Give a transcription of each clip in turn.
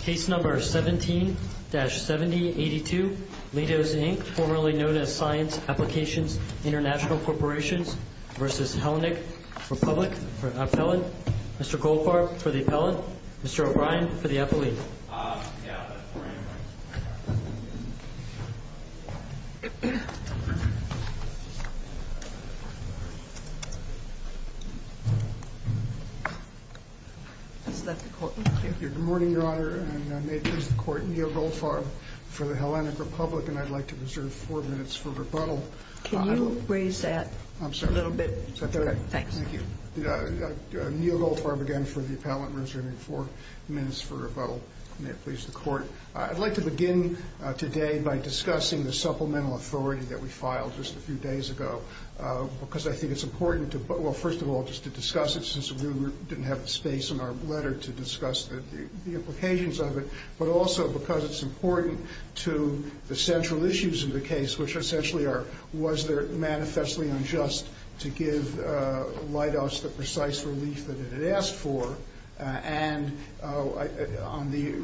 Case number 17-7082, Leidos, Inc., formerly known as Science Applications International Corporations v. Hellenic Republic Mr. Goldfarb for the appellate, Mr. O'Brien for the appellate Good morning, Your Honor, and may it please the Court, Neil Goldfarb for the Hellenic Republic, and I'd like to reserve four minutes for rebuttal. Can you raise that a little bit? Thank you. Neil Goldfarb again for the appellate and reserving four minutes for rebuttal. May it please the Court. I'd like to begin today by discussing the supplemental authority that we filed just a few days ago because I think it's important to, well, first of all, just to discuss it, since we didn't have the space in our letter to discuss the implications of it, but also because it's important to the central issues of the case, which essentially are was there manifestly unjust to give Leidos the precise relief that it had asked for, and on the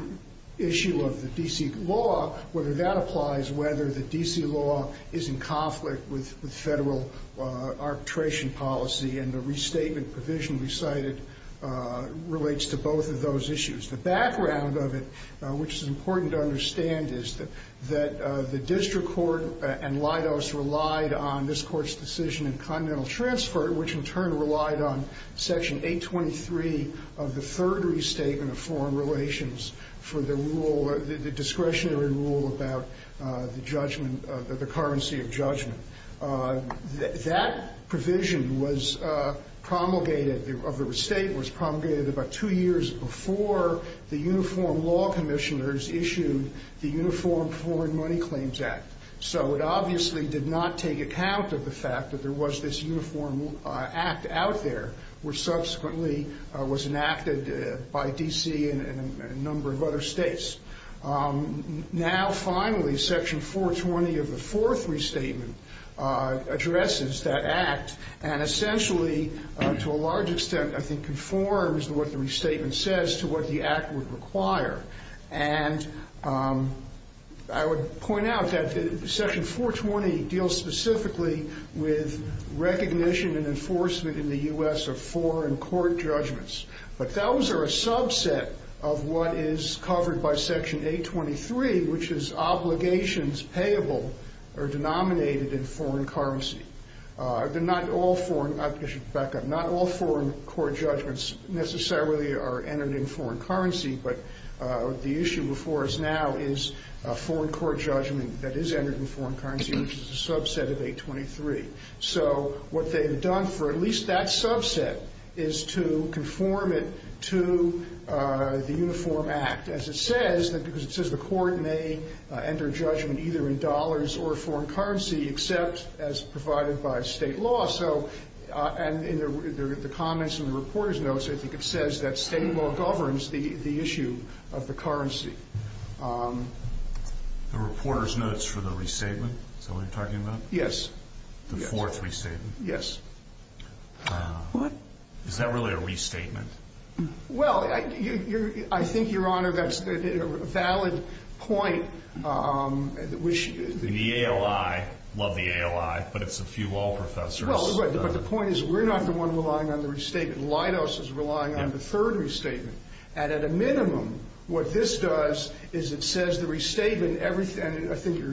issue of the D.C. law, whether that applies, whether the D.C. law is in conflict with federal arbitration policy, and the restatement provision recited relates to both of those issues. The background of it, which is important to understand, is that the district court and Leidos relied on this Court's decision in continental transfer, which in turn relied on section 823 of the third restatement of foreign relations for the discretionary rule about the currency of judgment. That provision of the restatement was promulgated about two years before the Uniform Law Commissioners issued the Uniform Foreign Money Claims Act. So it obviously did not take account of the fact that there was this Uniform Act out there, which subsequently was enacted by D.C. and a number of other states. Now, finally, section 420 of the fourth restatement addresses that Act and essentially, to a large extent, I think conforms what the restatement says to what the Act would require. And I would point out that section 420 deals specifically with recognition and enforcement in the U.S. of foreign court judgments. But those are a subset of what is covered by section 823, which is obligations payable or denominated in foreign currency. Not all foreign court judgments necessarily are entered in foreign currency, but the issue before us now is a foreign court judgment that is entered in foreign currency, which is a subset of 823. So what they have done for at least that subset is to conform it to the Uniform Act. As it says, because it says the court may enter judgment either in dollars or foreign currency, except as provided by state law. So in the comments in the reporter's notes, I think it says that state law governs the issue of the currency. The reporter's notes for the restatement? Is that what you're talking about? Yes. The fourth restatement? Yes. Is that really a restatement? Well, I think, Your Honor, that's a valid point. The ALI, love the ALI, but it's a few law professors. But the point is we're not the one relying on the restatement. LIDOS is relying on the third restatement. And at a minimum, what this does is it says the restatement, and I think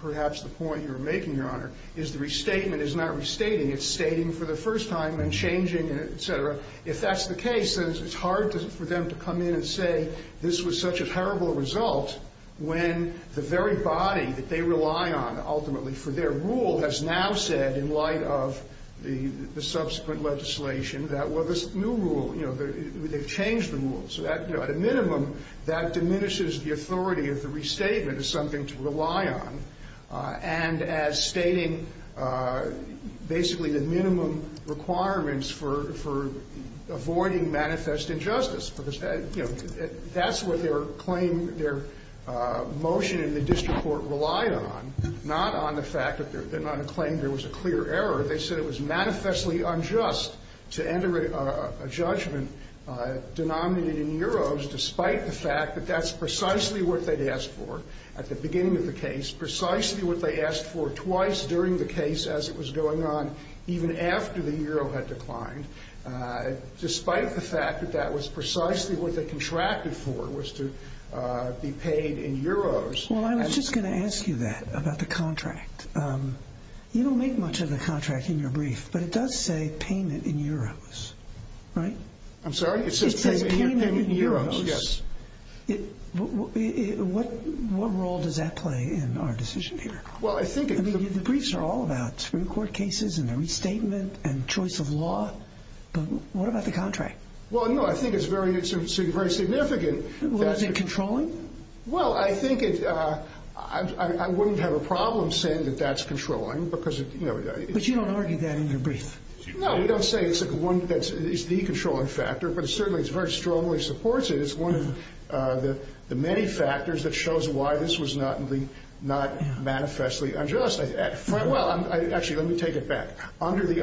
perhaps the point you're making, Your Honor, is the restatement is not restating, it's stating for the first time and changing, et cetera. If that's the case, then it's hard for them to come in and say this was such a terrible result when the very body that they rely on ultimately for their rule has now said, in light of the subsequent legislation, that, well, this new rule, you know, they've changed the rule. So at a minimum, that diminishes the authority of the restatement as something to rely on and as stating basically the minimum requirements for avoiding manifest injustice. Because, you know, that's what their claim, their motion in the district court relied on, not on the fact that their claim there was a clear error. They said it was manifestly unjust to enter a judgment denominated in euros despite the fact that that's precisely what they'd asked for at the beginning of the case, precisely what they asked for twice during the case as it was going on even after the euro had declined, despite the fact that that was precisely what they contracted for was to be paid in euros. Well, I was just going to ask you that about the contract. You don't make much of the contract in your brief, but it does say payment in euros, right? I'm sorry? It says payment in euros? It says payment in euros. Yes. What role does that play in our decision here? Well, I think... I mean, the briefs are all about Supreme Court cases and the restatement and choice of law. But what about the contract? Well, no, I think it's very significant. Was it controlling? Well, I think it... I wouldn't have a problem saying that that's controlling because, you know... But you don't argue that in your brief. No, we don't say it's the controlling factor, but certainly it very strongly supports it. It's one of the many factors that shows why this was not manifestly unjust. Well, actually, let me take it back. Under the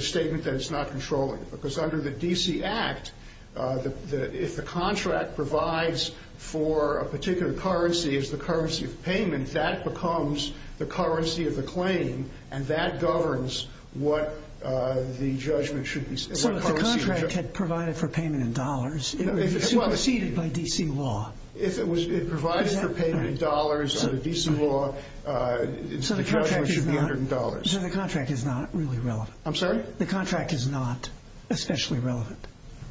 statement that it's not controlling, because under the D.C. Act, if the contract provides for a particular currency as the currency of payment, that becomes the currency of the claim, and that governs what the judgment should be... So if the contract had provided for payment in dollars, it would be superseded by D.C. law? If it provided for payment in dollars under D.C. law, the judgment should be $100. So the contract is not really relevant? I'm sorry? The contract is not especially relevant?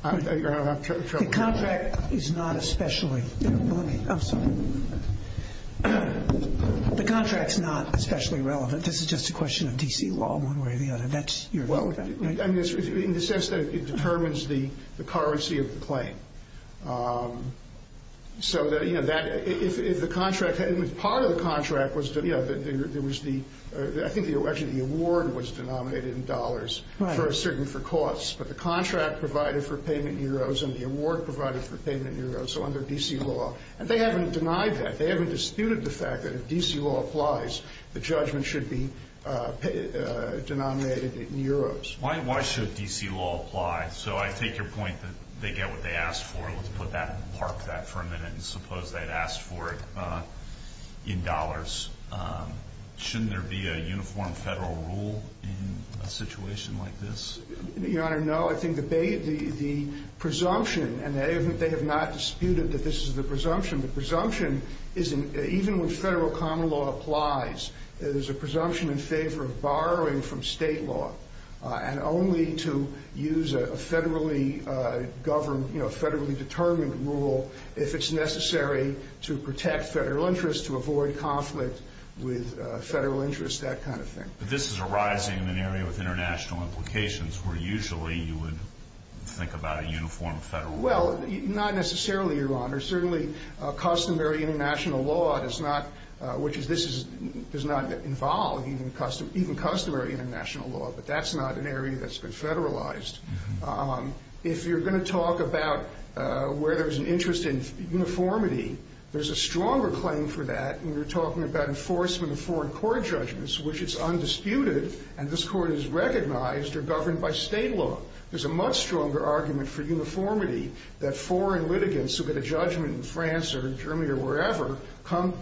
The contract is not especially... Let me... I'm sorry. The contract's not especially relevant. This is just a question of D.C. law, one way or the other. That's your... In the sense that it determines the currency of the claim. So, you know, if the contract... Part of the contract was... There was the... I think actually the award was denominated in dollars. Right. But the contract provided for payment in euros, and the award provided for payment in euros, so under D.C. law. And they haven't denied that. They haven't disputed the fact that if D.C. law applies, the judgment should be denominated in euros. Why should D.C. law apply? So I take your point that they get what they asked for. Let's put that... park that for a minute and suppose they had asked for it in dollars. Shouldn't there be a uniform federal rule in a situation like this? Your Honor, no. I think the presumption... And they have not disputed that this is the presumption. The presumption isn't... Even when federal common law applies, there's a presumption in favor of borrowing from state law, and only to use a federally governed, you know, federally determined rule if it's necessary to protect federal interests, to avoid conflict with federal interests, that kind of thing. But this is arising in an area with international implications where usually you would think about a uniform federal rule. Well, not necessarily, Your Honor. Certainly customary international law does not... which is this does not involve even customary international law, but that's not an area that's been federalized. If you're going to talk about where there's an interest in uniformity, there's a stronger claim for that when you're talking about enforcement of foreign court judgments, which is undisputed, and this court is recognized or governed by state law. There's a much stronger argument for uniformity that foreign litigants who get a judgment in France or Germany or wherever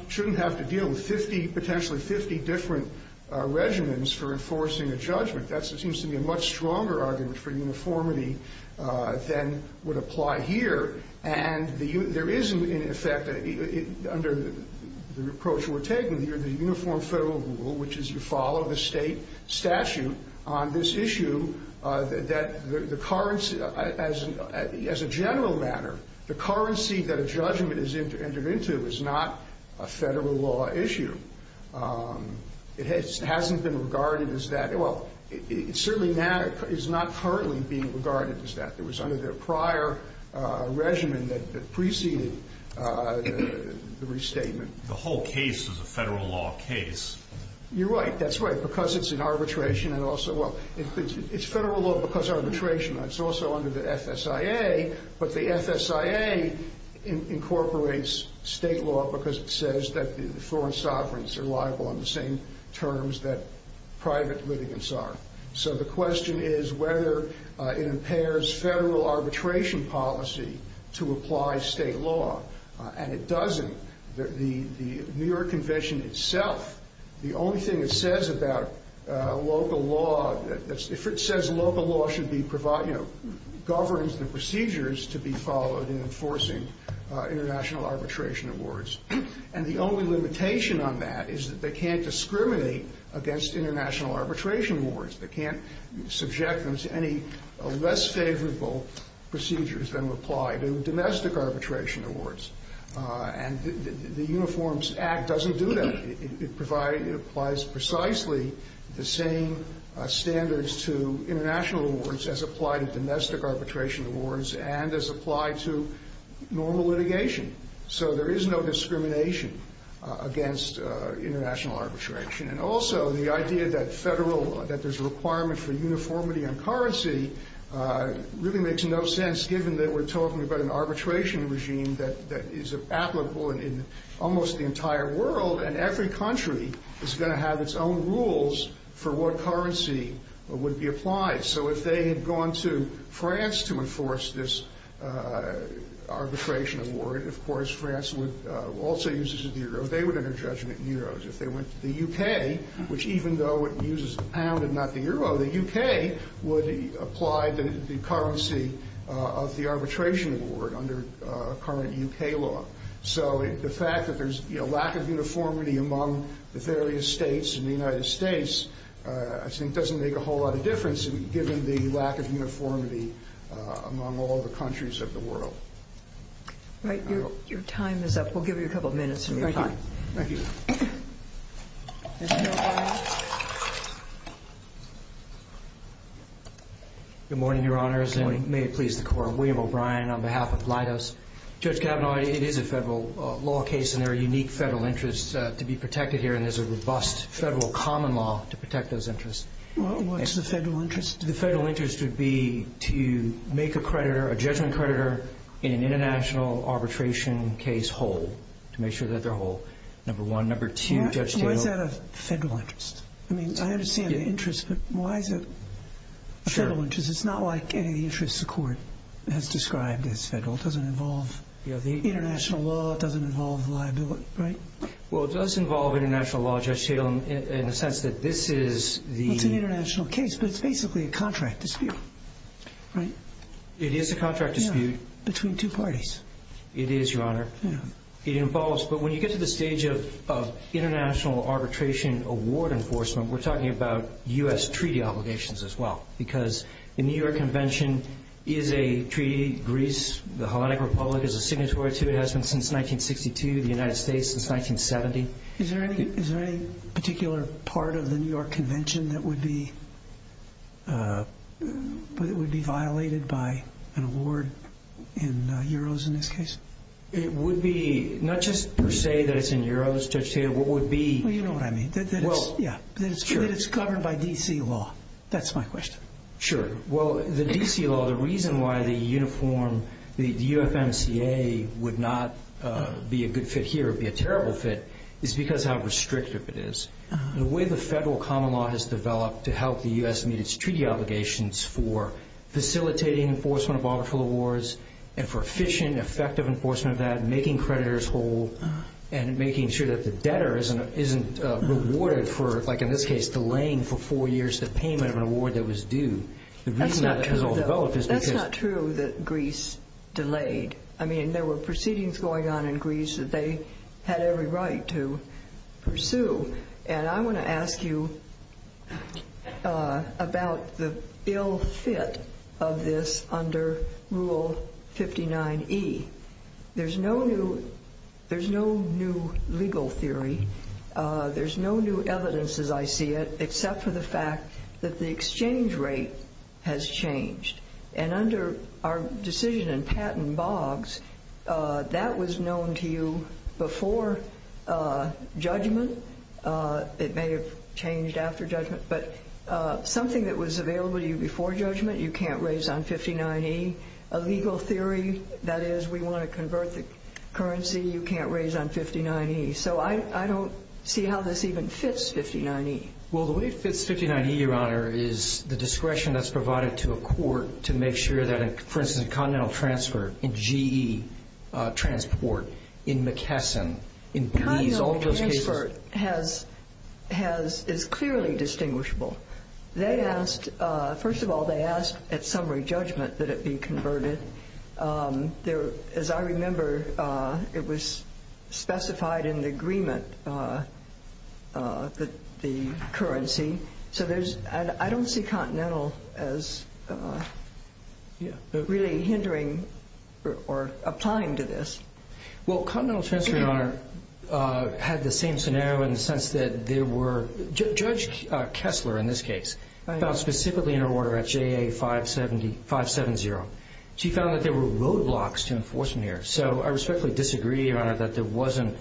shouldn't have to deal with 50... potentially 50 different regimens for enforcing a judgment. That seems to be a much stronger argument for uniformity than would apply here. And there is, in effect, under the approach we're taking here, the uniform federal rule, which is you follow the state statute on this issue, that the currency, as a general matter, the currency that a judgment is entered into is not a federal law issue. It hasn't been regarded as that. Well, it certainly is not currently being regarded as that. It was under their prior regimen that preceded the restatement. The whole case is a federal law case. You're right. That's right. Because it's in arbitration and also... Well, it's federal law because arbitration. It's also under the FSIA, but the FSIA incorporates state law because it says that the foreign sovereigns are liable on the same terms that private litigants are. So the question is whether it impairs federal arbitration policy to apply state law, and it doesn't. The New York Convention itself, the only thing it says about local law, if it says local law should be provided, you know, governs the procedures to be followed in enforcing international arbitration awards. And the only limitation on that is that they can't discriminate against international arbitration awards. They can't subject them to any less favorable procedures than would apply to domestic arbitration awards. And the Uniforms Act doesn't do that. It applies precisely the same standards to international awards as apply to domestic arbitration awards and as apply to normal litigation. So there is no discrimination against international arbitration. And also the idea that there's a requirement for uniformity on currency really makes no sense given that we're talking about an arbitration regime that is applicable in almost the entire world, and every country is going to have its own rules for what currency would be applied. So if they had gone to France to enforce this arbitration award, of course France would also use it as the euro. They would enter judgment in euros. If they went to the U.K., which even though it uses the pound and not the euro, the U.K. would apply the currency of the arbitration award under current U.K. law. So the fact that there's a lack of uniformity among the various states in the United States I think doesn't make a whole lot of difference given the lack of uniformity among all the countries of the world. All right, your time is up. We'll give you a couple of minutes of your time. Thank you. Mr. O'Brien. Good morning, Your Honors, and may it please the Court. William O'Brien on behalf of Leidos. Judge Kavanaugh, it is a federal law case, and there are unique federal interests to be protected here, and there's a robust federal common law to protect those interests. What's the federal interest? The federal interest would be to make a creditor, a judgment creditor in an international arbitration case whole to make sure that they're whole, number one. Number two, Judge Kavanaugh. Why is that a federal interest? I mean, I understand the interest, but why is it a federal interest? It's not like any interest the Court has described as federal. It doesn't involve international law. It doesn't involve liability, right? Well, it does involve international law, Judge Kavanaugh, in the sense that this is the – Well, it's an international case, but it's basically a contract dispute, right? It is a contract dispute. Between two parties. It is, Your Honor. It involves – but when you get to the stage of international arbitration award enforcement, we're talking about U.S. treaty obligations as well because the New York Convention is a treaty. Greece, the Hellenic Republic, is a signatory to it. It has been since 1962, the United States since 1970. Is there any particular part of the New York Convention that would be violated by an award in euros in this case? It would be – not just per se that it's in euros, Judge Taylor. What would be – Well, you know what I mean. That it's – yeah. That it's governed by D.C. law. That's my question. Sure. Well, the D.C. law, the reason why the uniform, the UFMCA, would not be a good fit here or be a terrible fit is because how restrictive it is. The way the federal common law has developed to help the U.S. meet its treaty obligations for facilitating enforcement of arbitral awards and for efficient, effective enforcement of that, making creditors whole, and making sure that the debtor isn't rewarded for, like in this case, delaying for four years the payment of an award that was due. The reason that has all developed is because – That's not true, though. That's not true that Greece delayed. I mean, there were proceedings going on in Greece that they had every right to pursue. And I want to ask you about the ill fit of this under Rule 59E. There's no new – there's no new legal theory. There's no new evidence, as I see it, except for the fact that the exchange rate has changed. And under our decision in Patten-Boggs, that was known to you before judgment. It may have changed after judgment. But something that was available to you before judgment you can't raise on 59E. A legal theory, that is, we want to convert the currency, you can't raise on 59E. So I don't see how this even fits 59E. Well, the way it fits 59E, Your Honor, is the discretion that's provided to a court to make sure that, for instance, a continental transfer, a GE transport, in McKesson, in Belize, all those cases. Continental transfer has – is clearly distinguishable. They asked – first of all, they asked at summary judgment that it be converted. As I remember, it was specified in the agreement, the currency. So there's – I don't see continental as really hindering or applying to this. Well, continental transfer, Your Honor, had the same scenario in the sense that there were – Judge Kessler, in this case, found specifically in her order at JA 570. She found that there were roadblocks to enforcement errors. So I respectfully disagree, Your Honor, that there wasn't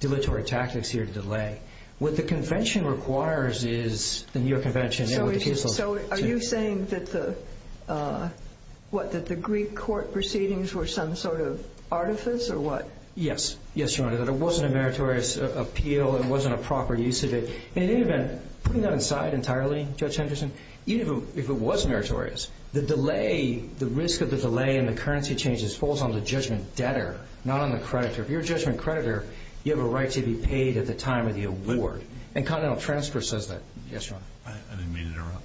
dilatory tactics here to delay. What the convention requires is the New York Convention and what the case law says. So are you saying that the – what, that the Greek court proceedings were some sort of artifice or what? Yes. Yes, Your Honor, that it wasn't a meritorious appeal. It wasn't a proper use of it. In any event, putting that aside entirely, Judge Henderson, even if it was meritorious, the delay – the risk of the delay in the currency changes falls on the judgment debtor, not on the creditor. If you're a judgment creditor, you have a right to be paid at the time of the award. And continental transfer says that. Yes, Your Honor. I didn't mean to interrupt.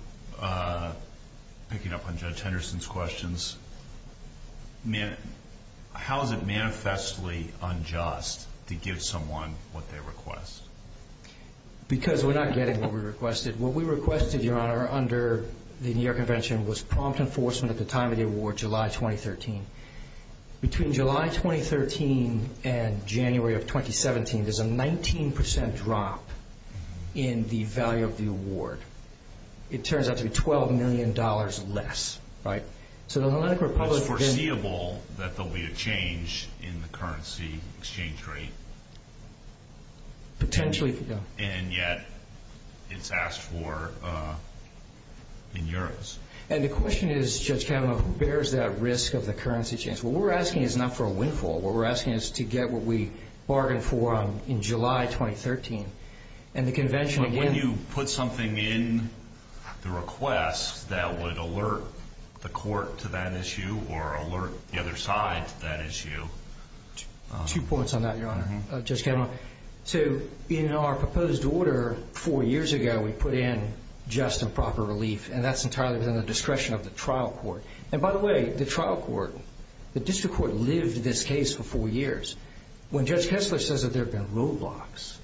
Picking up on Judge Henderson's questions, how is it manifestly unjust to give someone what they request? Because we're not getting what we requested. What we requested, Your Honor, under the New York Convention, was prompt enforcement at the time of the award, July 2013. Between July 2013 and January of 2017, there's a 19% drop in the value of the award. It turns out to be $12 million less, right? So the Atlantic Republic – It's foreseeable that there will be a change in the currency exchange rate. Potentially it could go. And yet it's asked for in Euros. And the question is, Judge Kavanaugh, who bears that risk of the currency change? What we're asking is not for a windfall. What we're asking is to get what we bargained for in July 2013. And the convention again – When you put something in the request that would alert the court to that issue or alert the other side to that issue – Two points on that, Your Honor, Judge Kavanaugh. So in our proposed order four years ago, we put in just and proper relief. And that's entirely within the discretion of the trial court. And by the way, the trial court – the district court lived this case for four years. When Judge Kessler says that there have been roadblocks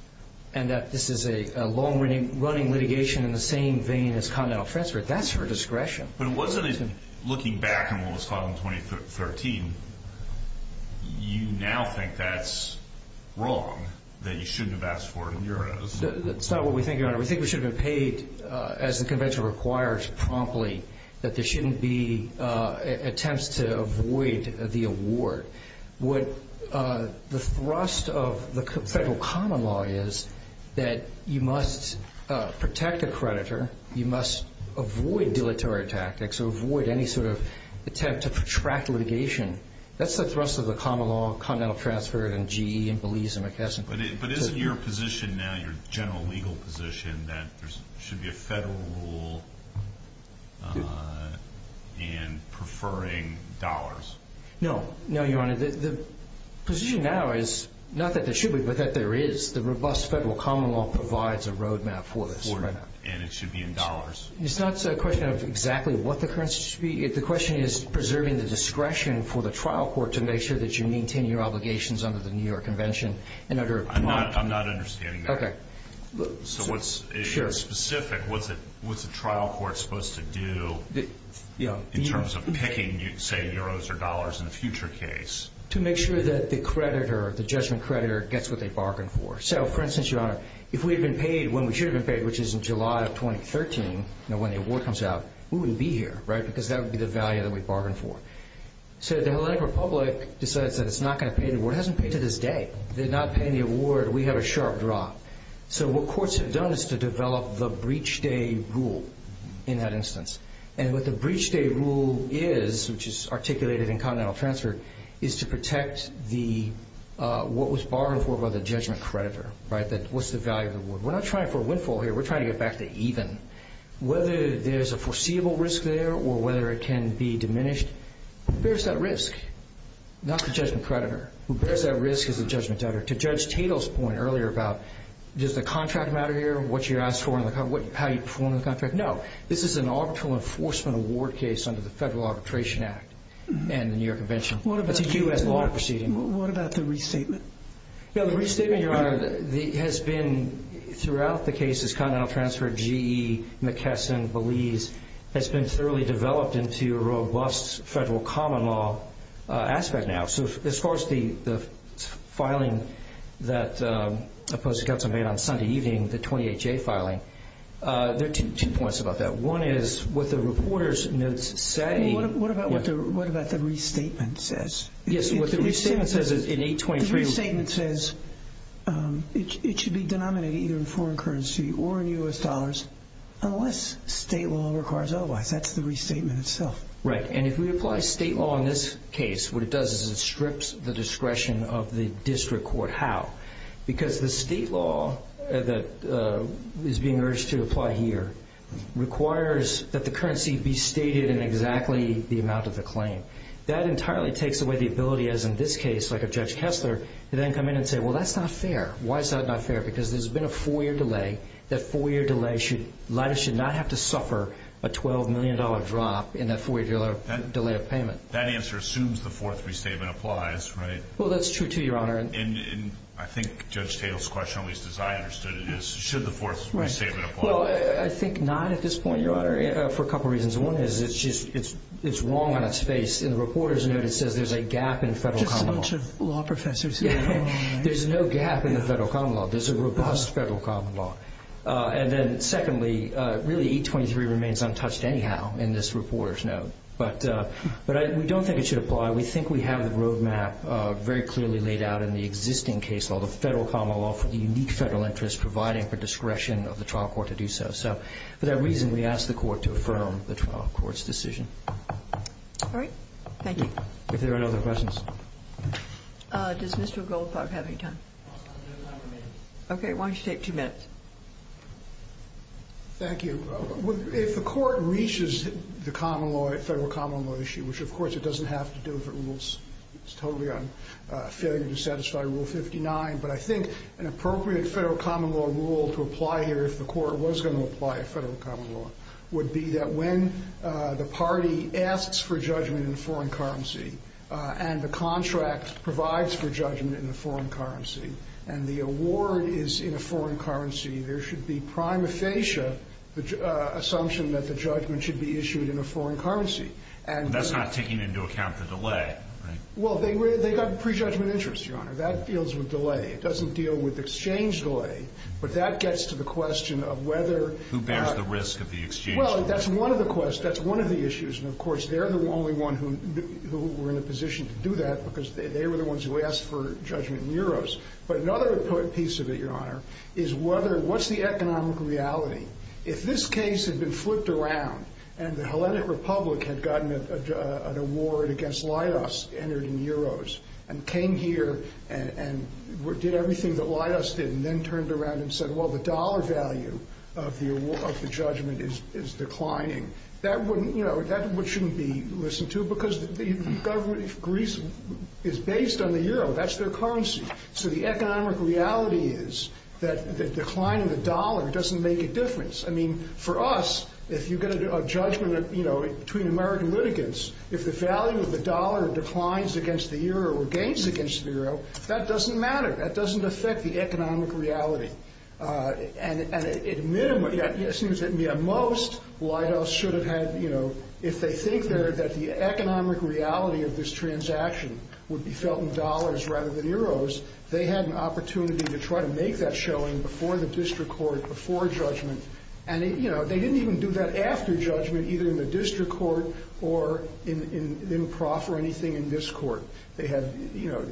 and that this is a long-running litigation in the same vein as Continental Fence, that's her discretion. But wasn't it, looking back on what was fought in 2013, you now think that's wrong, that you shouldn't have asked for it in Euros? That's not what we think, Your Honor. We think we should have been paid, as the convention requires promptly, that there shouldn't be attempts to avoid the award. What the thrust of the federal common law is that you must protect a creditor, you must avoid dilatory tactics or avoid any sort of attempt to protract litigation. That's the thrust of the common law, Continental Transfer, and GE, and Belize, and McKesson. But isn't your position now, your general legal position, that there should be a federal rule in preferring dollars? No. No, Your Honor. The position now is not that there should be, but that there is. The robust federal common law provides a roadmap for this right now. And it should be in dollars. It's not a question of exactly what the currency should be. The question is preserving the discretion for the trial court to make sure that you maintain your obligations under the New York Convention. I'm not understanding that. Okay. So what's specific? What's the trial court supposed to do in terms of picking, say, Euros or dollars in a future case? To make sure that the creditor, the judgment creditor, gets what they bargained for. So, for instance, Your Honor, if we had been paid when we should have been paid, which is in July of 2013, when the award comes out, we wouldn't be here, right? Because that would be the value that we bargained for. So the Hellenic Republic decides that it's not going to pay the award. It hasn't paid to this day. They're not paying the award. We have a sharp drop. So what courts have done is to develop the breach day rule in that instance. And what the breach day rule is, which is articulated in Continental Transfer, is to protect what was bargained for by the judgment creditor, right? What's the value of the award? We're not trying for a windfall here. We're trying to get back to even. Whether there's a foreseeable risk there or whether it can be diminished, who bears that risk? Not the judgment creditor. Who bears that risk is the judgment creditor. To Judge Tatel's point earlier about does the contract matter here, what you're asked for in the contract, how you perform in the contract? No. This is an arbitral enforcement award case under the Federal Arbitration Act and the New York Convention. It's a U.S. law proceeding. What about the restatement? The restatement, Your Honor, has been throughout the cases, Continental Transfer, GE, McKesson, Belize, has been thoroughly developed into a robust federal common law aspect now. As far as the filing that the Postal Council made on Sunday evening, the 28-J filing, there are two points about that. One is what the reporter's notes say. What about what the restatement says? Yes, what the restatement says is in 823. The restatement says it should be denominated either in foreign currency or in U.S. dollars unless state law requires otherwise. That's the restatement itself. Right, and if we apply state law in this case, what it does is it strips the discretion of the district court. How? Because the state law that is being urged to apply here requires that the currency be stated in exactly the amount of the claim. That entirely takes away the ability, as in this case, like of Judge Kessler, to then come in and say, well, that's not fair. Why is that not fair? Because there's been a four-year delay. That four-year delay should not have to suffer a $12 million drop in that four-year delay of payment. That answer assumes the fourth restatement applies, right? Well, that's true, too, Your Honor. And I think Judge Taylor's question, at least as I understood it, is should the fourth restatement apply? Well, I think not at this point, Your Honor, for a couple reasons. One is it's wrong on its face, and the reporter's note, it says there's a gap in federal common law. Just a bunch of law professors here. There's no gap in the federal common law. There's a robust federal common law. And then, secondly, really, 823 remains untouched anyhow in this reporter's note. But we don't think it should apply. We think we have the roadmap very clearly laid out in the existing case law, the federal common law for the unique federal interest, providing for discretion of the trial court to do so. So for that reason, we ask the Court to affirm the trial court's decision. All right. Thank you. If there are no other questions. Does Mr. Goldberg have any time? Okay. Why don't you take two minutes? Thank you. If the Court reaches the federal common law issue, which, of course, it doesn't have to do if it rules. It's totally a failure to satisfy Rule 59. But I think an appropriate federal common law rule to apply here, if the Court was going to apply a federal common law, would be that when the party asks for judgment in foreign currency and the contract provides for judgment in a foreign currency and the award is in a foreign currency, there should be prima facie the assumption that the judgment should be issued in a foreign currency. That's not taking into account the delay, right? Well, they've got prejudgment interest, Your Honor. That deals with delay. It doesn't deal with exchange delay. But that gets to the question of whether… Who bears the risk of the exchange? Well, that's one of the questions. That's one of the issues. And, of course, they're the only one who were in a position to do that because they were the ones who asked for judgment in euros. But another piece of it, Your Honor, is whether… What's the economic reality? If this case had been flipped around and the Hellenic Republic had gotten an award against Laidos entered in euros and came here and did everything that Laidos did and then turned around and said, well, the dollar value of the judgment is declining, that shouldn't be listened to because the government of Greece is based on the euro. That's their currency. So the economic reality is that the decline of the dollar doesn't make a difference. I mean, for us, if you get a judgment between American litigants, if the value of the dollar declines against the euro or gains against the euro, that doesn't matter. That doesn't affect the economic reality. And it seems that most Laidos should have had, you know, if they think that the economic reality of this transaction would be felt in dollars rather than euros, they had an opportunity to try to make that showing before the district court, before judgment. And, you know, they didn't even do that after judgment, either in the district court or in proff or anything in this court. They have, you know,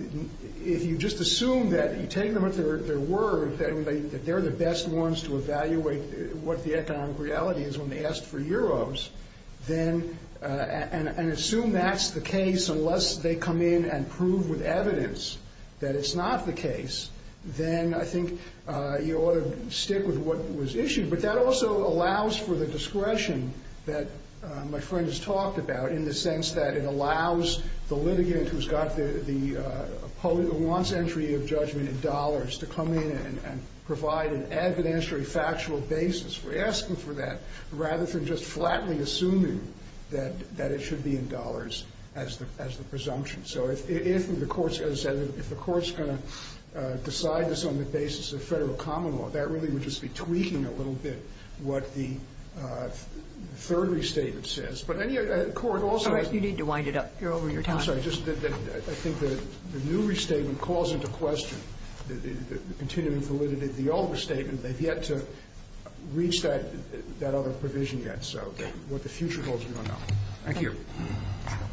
if you just assume that you take them at their word, that they're the best ones to evaluate what the economic reality is when they asked for euros, then and assume that's the case unless they come in and prove with evidence that it's not the case, then I think you ought to stick with what was issued. But that also allows for the discretion that my friend has talked about in the sense that it allows the litigant who's got the, who wants entry of judgment in dollars to come in and provide an evidentiary factual basis for asking for that rather than just flatly assuming that it should be in dollars as the presumption. So if the court's going to decide this on the basis of federal common law, that really would just be tweaking a little bit what the third restatement says. But any court also. All right. You need to wind it up. You're over your time. I'm sorry. I think the new restatement calls into question the continuing validity of the older statement. They've yet to reach that other provision yet. So what the future holds, we don't know. Thank you.